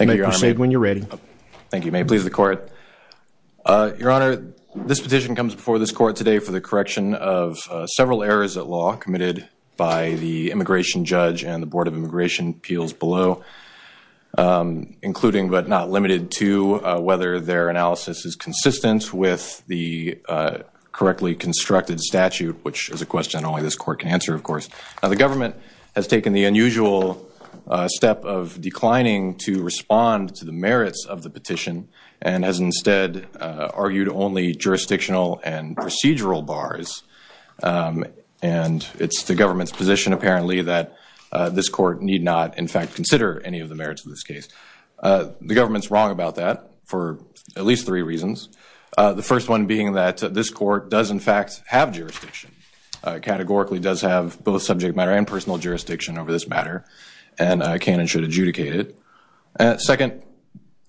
Your Honor, this petition comes before this court today for the correction of several errors at law committed by the immigration judge and the Board of Immigration Appeals below, including but not limited to whether their analysis is consistent with the correctly constructed statute, which is a question only this court can answer, of course. The government has taken the unusual step of declining to respond to the merits of the petition and has instead argued only jurisdictional and procedural bars. And it's the government's position, apparently, that this court need not, in fact, consider any of the merits of this case. The government's wrong about that for at least three reasons. The first one being that this court does, in fact, have jurisdiction. It categorically does have both subject matter and personal jurisdiction over this matter. And I can and should adjudicate it. Second,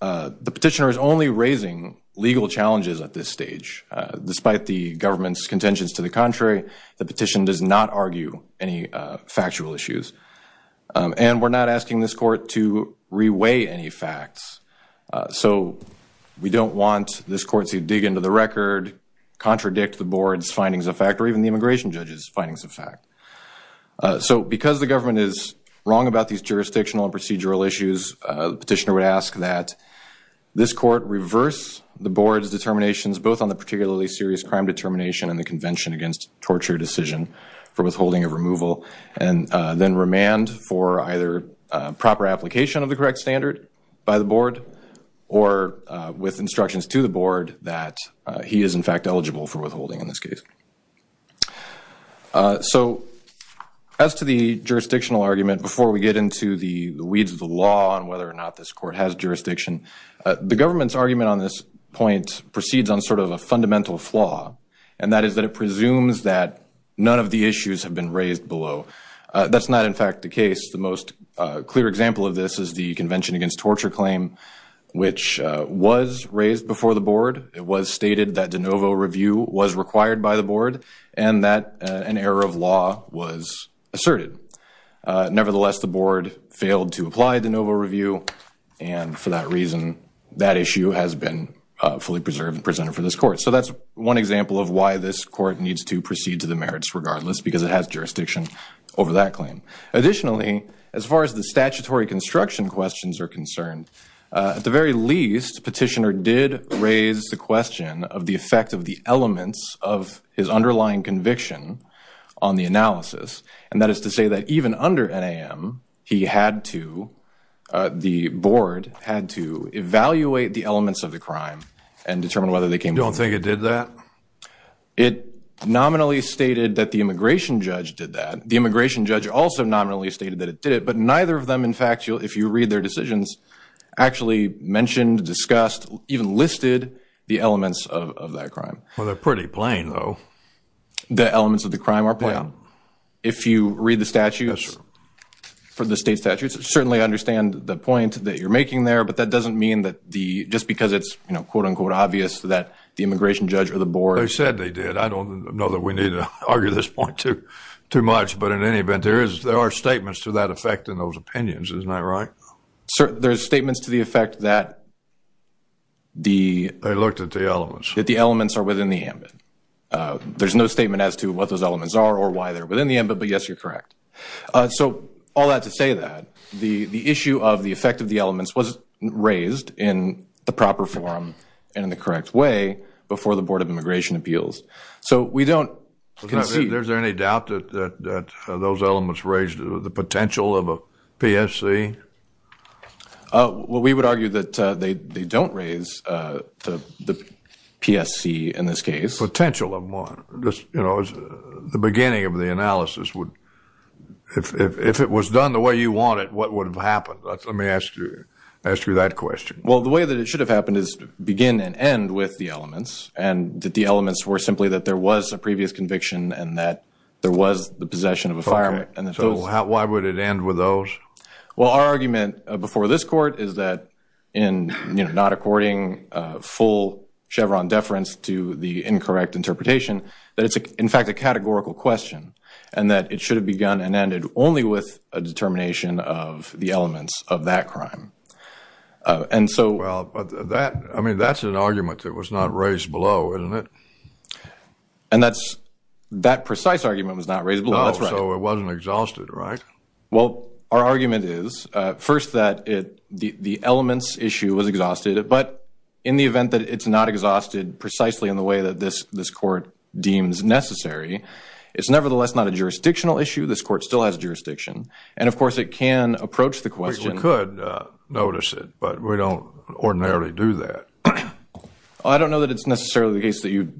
the petitioner is only raising legal challenges at this stage. Despite the government's contentions to the contrary, the petition does not argue any factual issues. And we're not asking this court to reweigh any facts. So we don't want this court to dig into the record, contradict the board's findings of fact, or even the immigration judge's findings of fact. So because the government is wrong about these jurisdictional and procedural issues, the petitioner would ask that this court reverse the board's determinations both on the particularly serious crime determination and the Convention Against Torture decision for withholding of removal and then remand for either proper application of the correct standard by the board or with instructions to the board that he is, in fact, eligible for withholding in this case. So as to the jurisdictional argument, before we get into the weeds of the law and whether or not this court has jurisdiction, the government's argument on this point proceeds on sort of a fundamental flaw. And that is that it presumes that none of the issues have been raised below. That's not, in fact, the case. The most clear example of this is the Convention Against Torture claim, which was raised before the board. It was stated that de novo review was required by the law was asserted. Nevertheless, the board failed to apply de novo review. And for that reason, that issue has been fully preserved and presented for this court. So that's one example of why this court needs to proceed to the merits regardless, because it has jurisdiction over that claim. Additionally, as far as the statutory construction questions are concerned, at the very least, petitioner did raise the question of the effect of the elements of his underlying conviction on the analysis. And that is to say that even under NAM, he had to, the board had to evaluate the elements of the crime and determine whether they came. You don't think it did that? It nominally stated that the immigration judge did that. The immigration judge also nominally stated that it did it, but neither of them, in fact, if you read their decisions, actually mentioned, discussed, even listed the elements of that crime. Well, they're pretty plain though. The elements of the crime are plain. If you read the statutes for the state statutes, certainly I understand the point that you're making there, but that doesn't mean that the, just because it's, you know, quote unquote obvious that the immigration judge or the board. They said they did. I don't know that we need to argue this point too much, but in any event, there is, there are statements to that effect in those opinions. Isn't that right? Sir, there's statements to the effect that the. They looked at the elements. That the elements are within the ambit. There's no statement as to what those elements are or why they're within the ambit, but yes, you're correct. So all that to say that the issue of the effect of the elements was raised in the proper form and in the correct way before the Board of Immigration Appeals. So we don't concede. Is there any doubt that those elements raised the potential of a PSC? Well, we would argue that they don't raise the PSC in this case. Potential of one. Just, you know, the beginning of the analysis would, if it was done the way you want it, what would have happened? Let me ask you that question. Well, the way that it should have happened is begin and end with the elements and that the elements were simply that there was a previous conviction and that there was the possession of a firearm. So why would it end with those? Well, our argument before this court is that in, you know, not according full Chevron deference to the incorrect interpretation, that it's, in fact, a categorical question and that it should have begun and ended only with a determination of the elements of that crime. And so, well, that, I mean, that's an argument that was not raised below, isn't it? And that's, that precise argument was not raised below, that's right. So it wasn't exhausted, right? Well, our argument is first that it, the elements issue was exhausted, but in the event that it's not exhausted precisely in the way that this, this court deems necessary, it's nevertheless not a jurisdictional issue. This court still has jurisdiction. And of course it can approach the question. We could notice it, but we don't ordinarily do that. I don't know that it's necessarily the case that you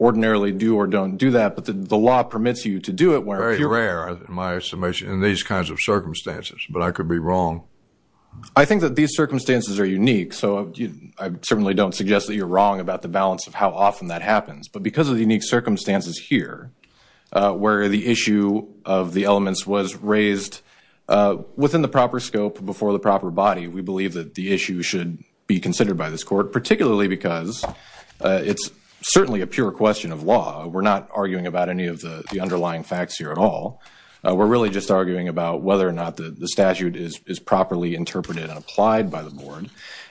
ordinarily do or don't do that, but the law permits you to do it. Very rare, in my estimation, in these kinds of circumstances, but I could be wrong. I think that these circumstances are unique. So I certainly don't suggest that you're wrong about the balance of how often that happens, but because of the unique circumstances here, where the issue of the elements was raised within the proper scope, before the proper body, we believe that the issue should be considered by this court, particularly because it's certainly a pure question of law. We're not arguing about any of the underlying facts here at all. We're really just arguing about whether or not the statute is properly interpreted and applied by the board.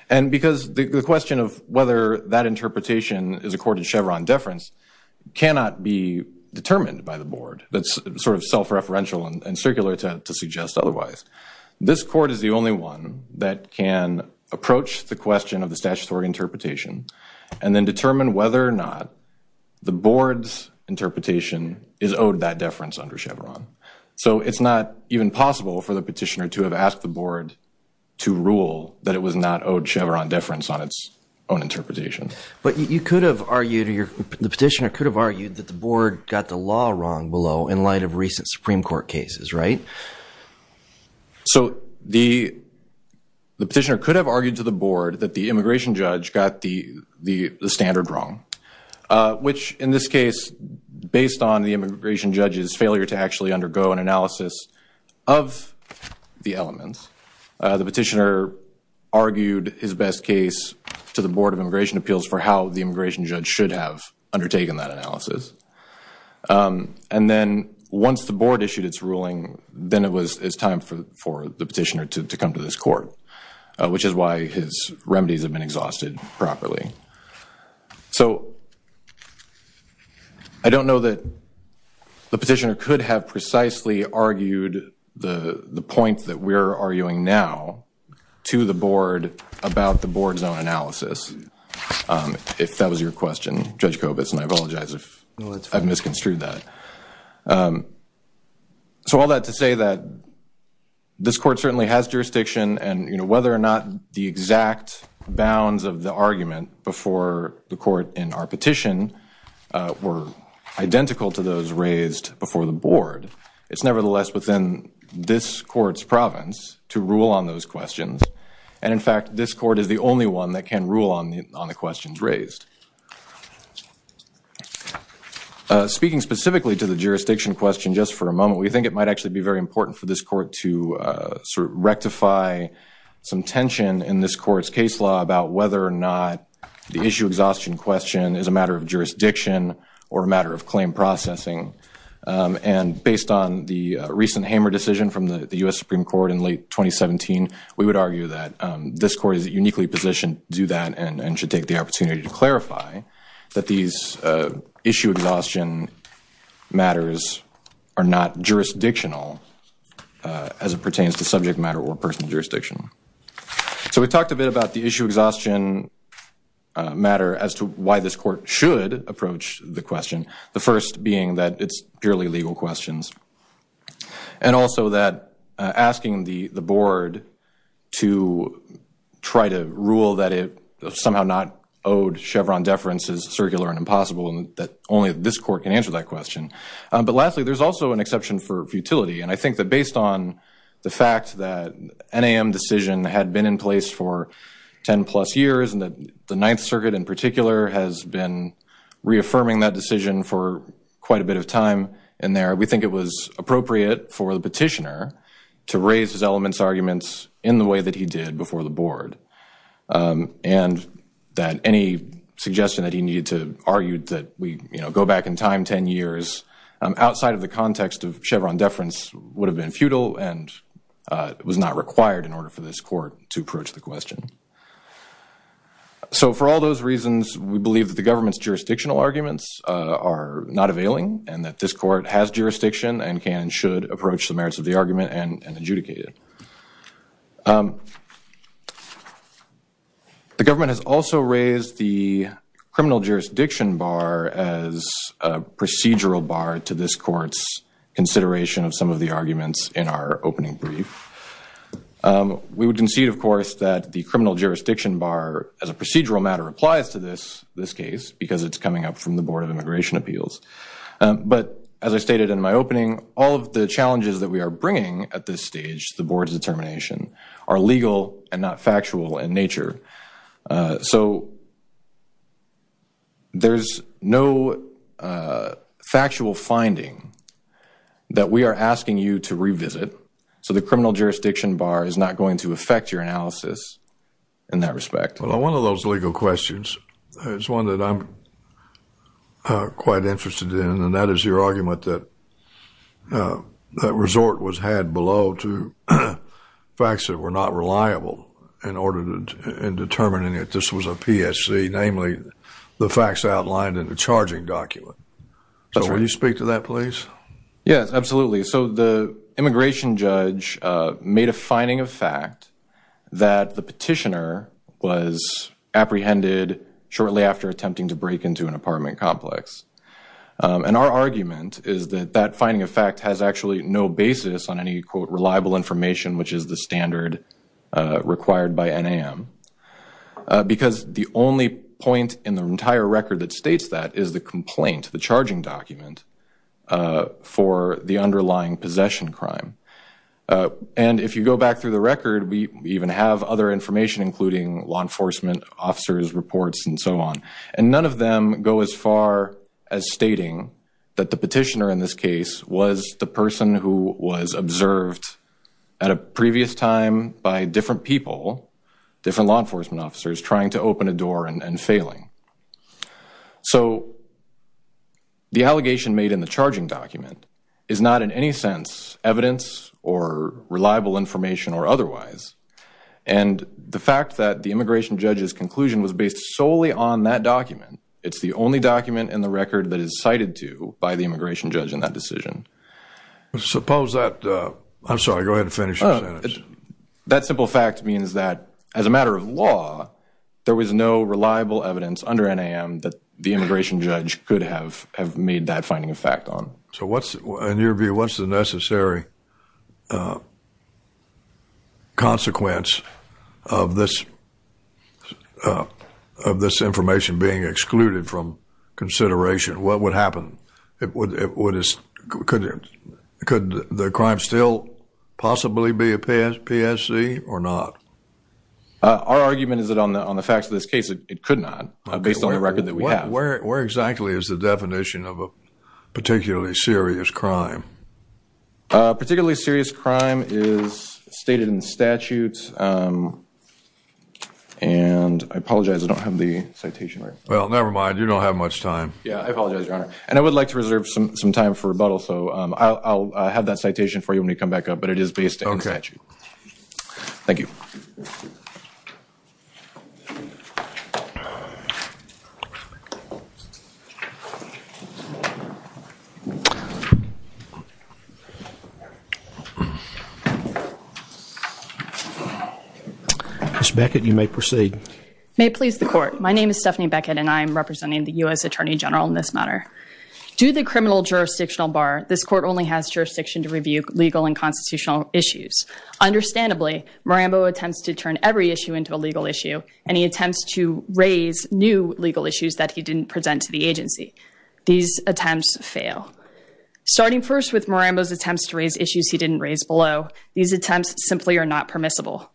And because the question of whether that interpretation is according to Chevron deference cannot be determined by the board. That's sort of self-referential and circular to suggest otherwise. This court is the only one that can approach the question of the statutory interpretation and then determine whether or not the board's interpretation is owed that deference under Chevron. So it's not even possible for the petitioner to have asked the board to rule that it was not owed Chevron deference on its own interpretation. But you could have argued, the petitioner could have argued that the board got the law wrong below in light of recent Supreme Court cases, right? So the petitioner could have argued to the board that the immigration judge got the standard wrong. Which in this case, based on the immigration judge's failure to actually undergo an analysis of the elements, the petitioner argued his best case to the board of immigration appeals for how the immigration judge should have undertaken that analysis. And then once the board issued its ruling, then it was time for the petitioner to come to this court. Which is why his remedies have been exhausted properly. So I don't know that the petitioner could have precisely argued the point that we're arguing now to the board about the board's own analysis. If that was your question, Judge Kobitz, and I apologize if I've misconstrued that. So all that to say that this court certainly has jurisdiction and whether or not the exact bounds of the argument before the court in our petition were identical to those raised before the board, it's nevertheless within this court's province to rule on those questions. And in fact, this court is the only one that can rule on the questions raised. Speaking specifically to the jurisdiction question just for a moment, we think it might actually be very important for this court to rectify some tension in this court's case law about whether or not the issue exhaustion question is a matter of jurisdiction or a matter of claim processing. And based on the recent Hamer decision from the U.S. Supreme Court in late 2017, we would argue that this court is uniquely positioned to do that and should take the opportunity to clarify that these issue exhaustion matters are not jurisdictional as it pertains to subject matter or personal jurisdiction. So we talked a bit about the issue exhaustion matter as to why this court should approach the question. The first being that it's purely legal questions. And also that asking the board to try to rule that it somehow not owed Chevron deference is circular and impossible and that only this court can answer that question. But lastly, there's also an exception for futility. And I think that based on the fact that NAM decision had been in place for 10 plus years and that the Ninth Circuit in particular has been reaffirming that decision for quite a bit of time in there, we think it was appropriate for the petitioner to raise his elements arguments in the way that he did before the board. And that any suggestion that he needed to argue that we, you know, go back in time 10 years outside of the context of Chevron deference would have been futile and was not required in order for this court to approach the question. So for all those reasons, we believe that the government's jurisdictional arguments are not availing and that this court has jurisdiction and can and should approach the merits of the argument and adjudicate it. The government has also raised the criminal jurisdiction bar as a procedural bar to this court's consideration of some of the arguments in our opening brief. We would concede of course that the criminal jurisdiction bar as a procedural matter applies to this case because it's coming up from the board of immigration appeals. But as I stated in my opening, all of the challenges that we are bringing at this stage to the board's determination are legal and not factual in nature. So there's no factual finding that we are asking you to revisit. So the criminal jurisdiction bar is not going to affect your analysis in that respect. Well, one of those legal questions is one that I'm quite interested in and that is your argument that that resort was had below to facts that were not reliable in determining that this was a PSC, namely the facts outlined in the charging document. So will you speak to that please? Yes, absolutely. So the immigration judge made a finding of fact that the petitioner was apprehended shortly after attempting to break into an apartment complex. And our argument is that that finding of fact has actually no basis on any quote reliable information which is the standard required by NAM. Because the only point in the entire record that states that is the complaint, the charging document for the underlying possession crime. And if you go back through the record, we even have other information including law enforcement officers reports and so on. And none of them go as far as stating that the apprehension was observed at a previous time by different people, different law enforcement officers trying to open a door and failing. So the allegation made in the charging document is not in any sense evidence or reliable information or otherwise. And the fact that the immigration judge's conclusion was based solely on that document, it's the only document in the record that is cited to by the immigration judge in that decision. Suppose that, I'm sorry, go ahead and finish your sentence. That simple fact means that as a matter of law, there was no reliable evidence under NAM that the immigration judge could have made that finding of fact on. So what's, in your view, what's the necessary consequence of this information being excluded from consideration? What would happen? Could the crime still possibly be a PSC or not? Our argument is that on the facts of this case, it could not, based on the record that we have. Where exactly is the definition of a particularly serious crime? A particularly serious crime is stated in statute. And I apologize, I don't have the citation right. Well, never mind. You don't have much time. Yeah, I apologize, Your Honor. And I would like to reserve some time for rebuttal. So I'll have that citation for you when you come back up. But it is based on statute. Thank you. Ms. Beckett, you may proceed. May it please the court. My name is Stephanie Beckett and I'm representing the U.S. Attorney General in this matter. Due to the criminal jurisdictional bar, this court only has jurisdiction to review legal and constitutional issues. Understandably, Marambo attempts to turn every issue into a legal issue and he attempts to raise new legal issues that he didn't present to the agency. These attempts fail. Starting first with Marambo's attempts to raise issues he didn't raise below, these attempts simply are not permissible.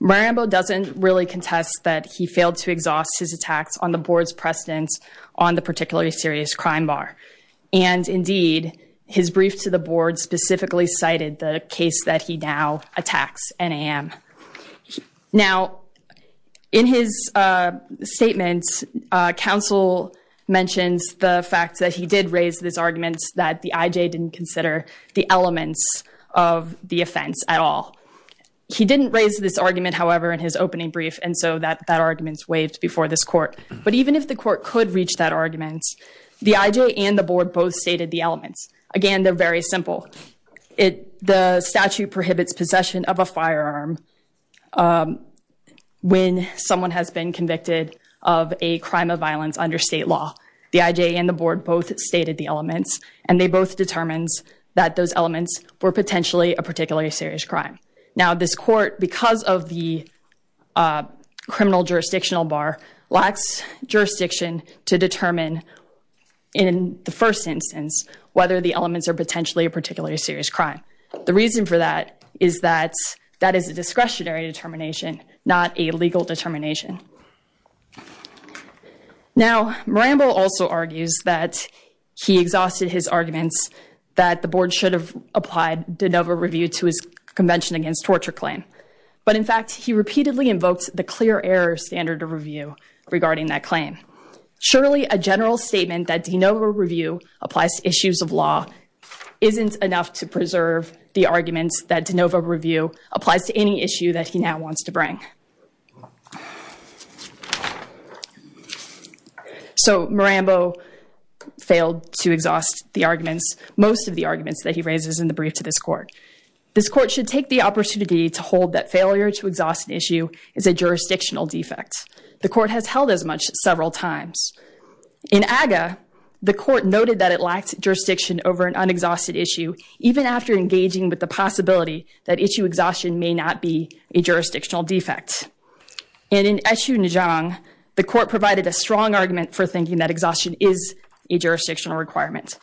Marambo doesn't really contest that he failed to exhaust his attacks on the board's precedence on the particularly serious crime bar. And indeed, his brief to the board specifically cited the case that he now attacks NAM. Now, in his statement, counsel mentions the fact that he did raise this argument that the IJ didn't consider the elements of the offense at all. He didn't raise this argument, however, in his opening brief. And so that argument's waived before this court. But even if the court could reach that argument, the IJ and the board both stated the elements. Again, they're very simple. The statute prohibits possession of a firearm when someone has been convicted of a crime of violence under state law. The IJ and the board both stated the elements and they both determined that those elements were potentially a particularly serious crime. Now, this court, because of the criminal jurisdictional bar, lacks jurisdiction to determine in the first instance whether the elements are potentially a particularly serious crime. The reason for that is that that is a discretionary determination, not a legal determination. Now, Marambo also argues that he exhausted his arguments that the board should have applied de novo review to his convention against torture claim. But in fact, he repeatedly invoked the clear error standard of review regarding that claim. Surely a general statement that de novo review applies to issues of law isn't enough to preserve the arguments that de novo review applies to any issue that he now wants to bring. So Marambo failed to exhaust the arguments, most of the arguments, that he raises in the brief to this court. This court should take the opportunity to hold that failure to exhaust an issue is a jurisdictional defect. The court has held as much several times. In AGA, the court noted that it lacked jurisdiction over an unexhausted issue, even after engaging with the possibility that issue exhaustion may not be a jurisdictional defect. And in Eshoo Nijong, the court provided a strong argument for thinking that exhaustion is a jurisdictional requirement.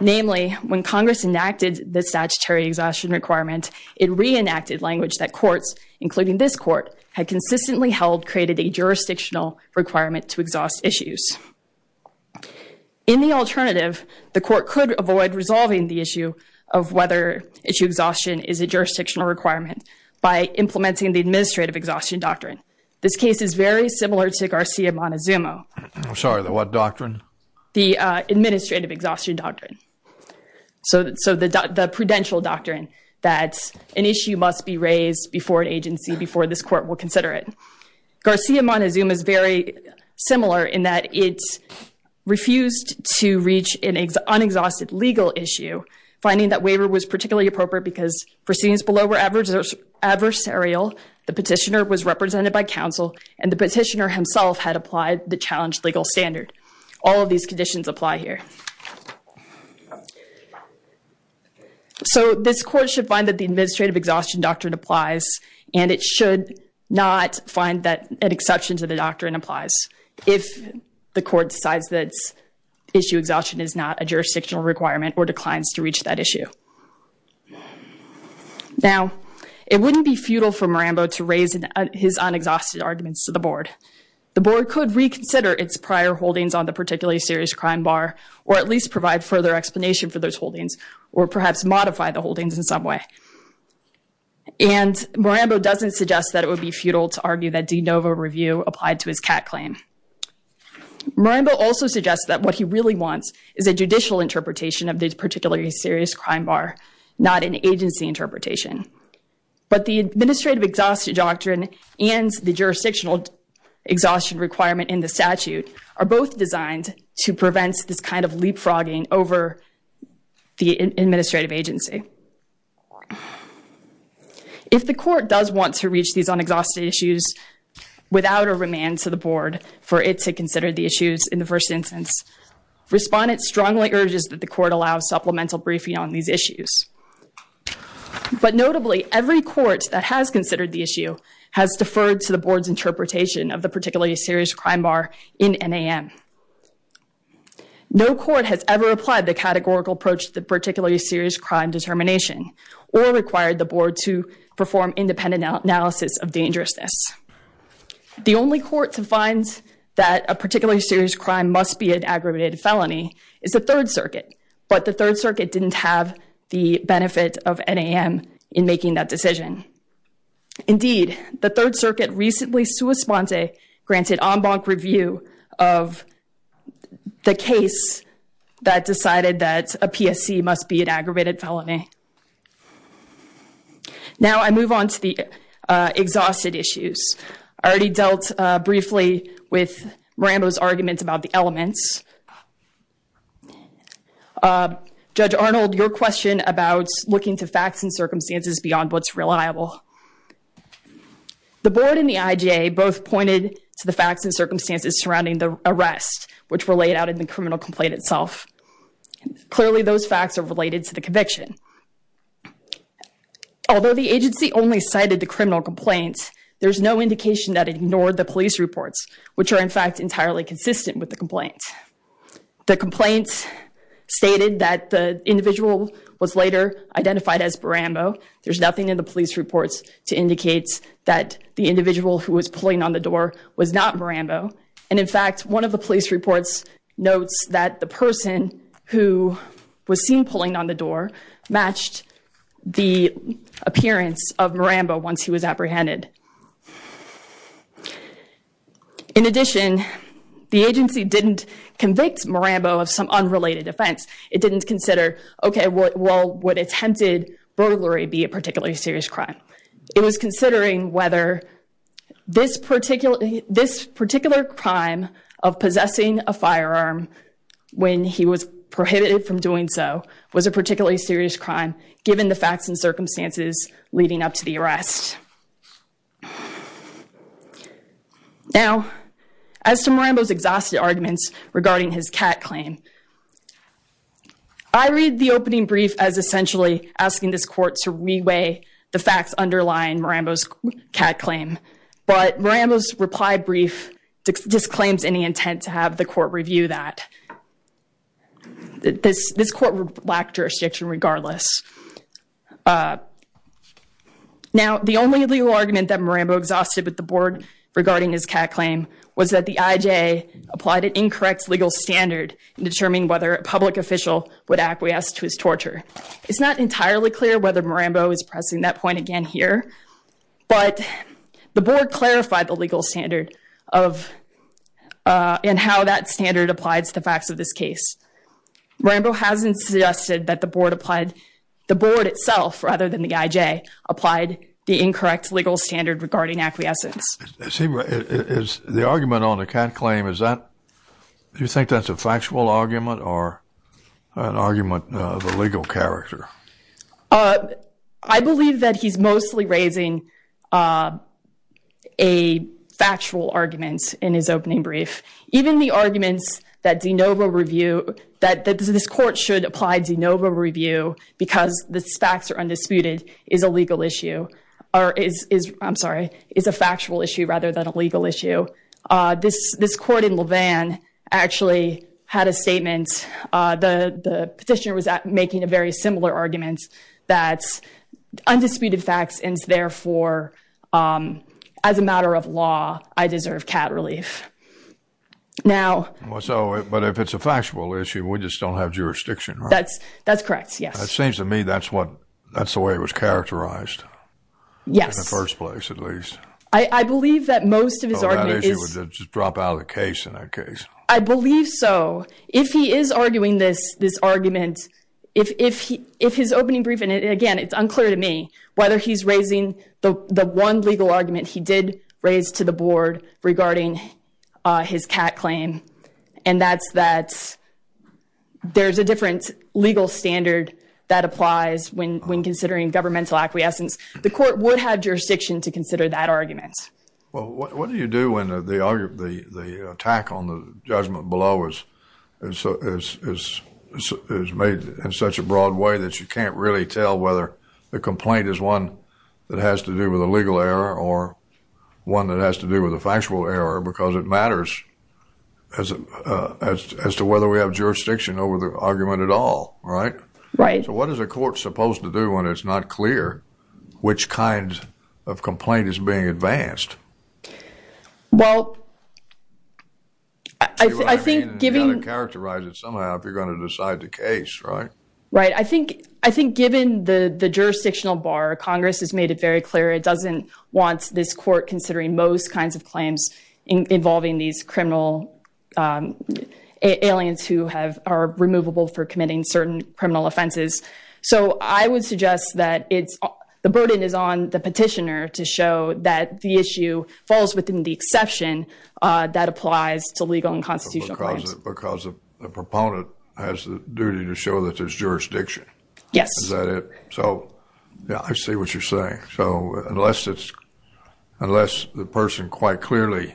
Namely, when Congress enacted the statutory exhaustion requirement, it reenacted language that courts, including this court, had consistently held created a jurisdictional requirement to exhaust issues. In the alternative, the court could avoid resolving the issue of whether issue exhaustion is a jurisdictional requirement by implementing the administrative exhaustion doctrine. This case is very similar to Garcia Montezuma. I'm sorry, the what doctrine? The administrative exhaustion doctrine. So the prudential doctrine that an issue must be raised before an agency, before this court will consider it. Garcia Montezuma is very similar in that it refused to reach an unexhausted legal issue, finding that waiver was particularly appropriate because proceedings below were adversarial, the petitioner was represented by counsel, and the petitioner himself had applied the challenged legal standard. All of these conditions apply here. So this court should find that the administrative exhaustion doctrine applies, and it should not find that an exception to the doctrine applies if the court decides that issue exhaustion is not a jurisdictional requirement or declines to reach that issue. Now, it wouldn't be futile for Marambo to raise his unexhausted arguments to the board. The board could reconsider its prior holdings on the particularly serious crime bar, or at least provide further explanation for those holdings, or perhaps modify the holdings in some way. And Marambo doesn't suggest that it would be futile to argue that de novo review applied to his CAT claim. Marambo also suggests that what he really wants is a judicial interpretation of the particularly serious crime bar, not an agency interpretation. But the administrative exhaustion doctrine and the jurisdictional exhaustion requirement in the statute are both designed to prevent this kind of leapfrogging over the administrative agency. If the court does want to reach these unexhausted issues without a remand to the board for it to issues in the first instance, respondents strongly urge that the court allow supplemental briefing on these issues. But notably, every court that has considered the issue has deferred to the board's interpretation of the particularly serious crime bar in NAM. No court has ever applied the categorical approach to the particularly serious crime determination or required the board to perform independent analysis of dangerousness. The only court to find that a particularly serious crime must be an aggravated felony is the Third Circuit. But the Third Circuit didn't have the benefit of NAM in making that decision. Indeed, the Third Circuit recently sua sponte granted en banc review of the case that decided that a PSC must be an aggravated felony. Now, I move on to the exhausted issues. I already dealt briefly with Miranda's arguments about the elements. Judge Arnold, your question about looking to facts and circumstances beyond what's reliable. The board and the IGA both pointed to the facts and circumstances surrounding the arrest, which were laid out in the criminal complaint itself. Clearly, those facts are to the conviction. Although the agency only cited the criminal complaints, there's no indication that it ignored the police reports, which are in fact entirely consistent with the complaints. The complaints stated that the individual was later identified as Barambo. There's nothing in the police reports to indicate that the individual who was pulling on the door was not Barambo. And in fact, one of the police reports notes that the person who was seen pulling on the door matched the appearance of Barambo once he was apprehended. In addition, the agency didn't convict Barambo of some unrelated offense. It didn't consider, okay, well, would attempted burglary be a particularly serious crime? It was considering whether this particular crime of possessing a firearm when he was prohibited from doing so was a particularly serious crime, given the facts and circumstances leading up to the arrest. Now, as to Marambo's exhausted arguments regarding his cat claim, I read the opening brief as essentially asking this court to re-weigh the facts underlying Marambo's cat claim. But Marambo's reply brief disclaims any intent to have the court review that. This court would lack jurisdiction regardless. Now, the only legal argument that Marambo exhausted with the board regarding his cat claim was that the IJA applied an incorrect legal standard in determining whether a public official would acquiesce to his torture. It's not entirely clear whether Marambo is pressing that point again here, but the board clarified the facts of this case. Marambo hasn't suggested that the board applied, the board itself, rather than the IJA, applied the incorrect legal standard regarding acquiescence. The argument on the cat claim, is that, do you think that's a factual argument or an argument of a legal character? I believe that he's mostly raising a factual argument in his opening brief. Even the arguments that DeNova review, that this court should apply DeNova review because the facts are undisputed, is a legal issue, or is, I'm sorry, is a factual issue rather than a legal issue. This court in Levin actually had a statement, the petitioner was making a very similar argument, that undisputed facts and therefore, as a matter of law, I deserve cat relief. Now, so, but if it's a factual issue, we just don't have jurisdiction, right? That's, that's correct, yes. It seems to me that's what, that's the way it was characterized. Yes. In the first place, at least. I, I believe that most of his argument is, just drop out of the case in that case. I believe so. If he is arguing this, this argument, if, if he, if his opening brief, and again, it's unclear to me whether he's raising the, the one legal argument he did raise to the board regarding his cat claim, and that's, that there's a different legal standard that applies when, when considering governmental acquiescence. The court would have jurisdiction to consider that argument. Well, what do you do when the, the attack on the judgment below is, is, is, is made in such a broad way that you can't really tell whether the complaint is one that has to do with a legal error or one that has to do with a factual error, because it matters as, as to whether we have jurisdiction over the argument at all, right? Right. So what is a court supposed to do when it's not clear which kind of complaint is being advanced? Well, I, I think giving... You've got to characterize it somehow if you're going to decide the case, right? Right. I think, I think given the, the jurisdictional bar, Congress has made it very clear it doesn't want this court considering most kinds of claims involving these criminal aliens who have, are removable for committing certain criminal offenses. So I would suggest that it's, the burden is on the petitioner to show that the issue falls within the exception that applies to legal and constitutional claims. Because, because the proponent has the duty to show that there's jurisdiction. Yes. Is that it? So, yeah, I see what you're saying. So unless it's, unless the person quite clearly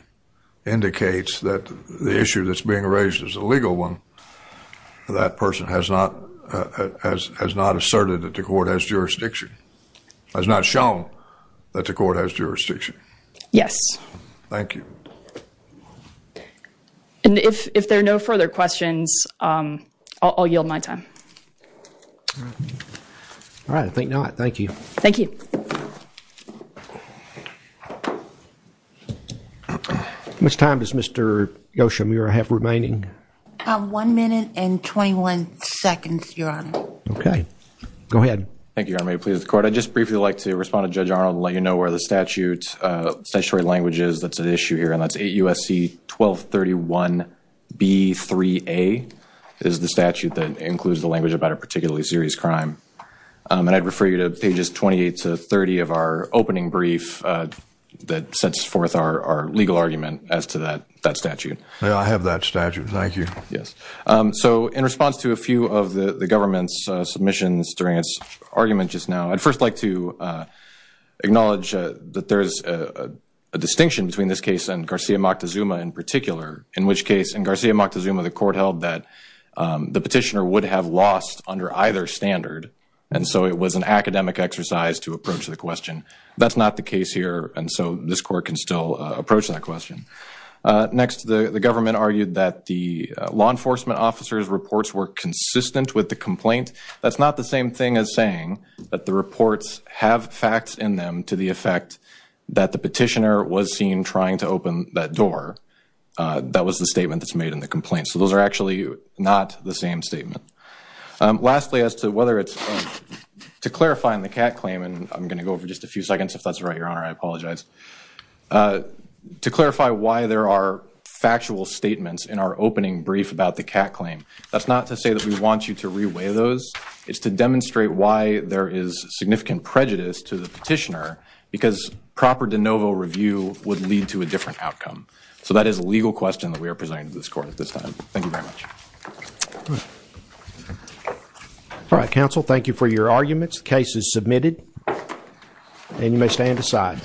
indicates that the issue that's being raised is a legal one, that person has not, has not asserted that the court has jurisdiction, has not shown that the court has jurisdiction. Yes. Thank you. And if, if there are no further questions, I'll yield my time. All right. I think not. Thank you. Thank you. How much time does Mr. Yoshimura have remaining? One minute and 21 seconds, Your Honor. Okay. Go ahead. Thank you, Your Honor. May it please the court. I'd just briefly like to respond to Judge Arnold and let you know where the statute, statutory language is that's at issue here. And that's 8 U.S.C. 1231 B.3.A. is the statute that includes the language about a particularly serious crime. And I'd refer you to pages 28 to 30 of our opening brief that sets forth our legal argument as to that statute. I have that statute. Thank you. Yes. So in response to a few of the government's submissions during its argument just now, I'd first like to acknowledge that there's a distinction between this case and Garcia Moctezuma in particular, in which case in Garcia Moctezuma, the court held that the petitioner would have lost under either standard. And so it was an academic exercise to approach the question. That's not the case here. And so this court can still approach that question. Next, the government argued that the law enforcement officer's reports were consistent with the complaint. That's not the same thing as saying that the reports have facts in them to the effect that the petitioner was seen trying to open that that was the statement that's made in the complaint. So those are actually not the same statement. Lastly, as to whether it's to clarify in the cat claim, and I'm going to go over just a few seconds, if that's right, your honor, I apologize to clarify why there are factual statements in our opening brief about the cat claim. That's not to say that we want you to reweigh those. It's to demonstrate why there is significant prejudice to the petitioner, because proper de novo review would lead to a different outcome. So that is a legal question that we are presenting to this court at this time. Thank you very much. All right, counsel, thank you for your arguments. The case is submitted and you may stand aside.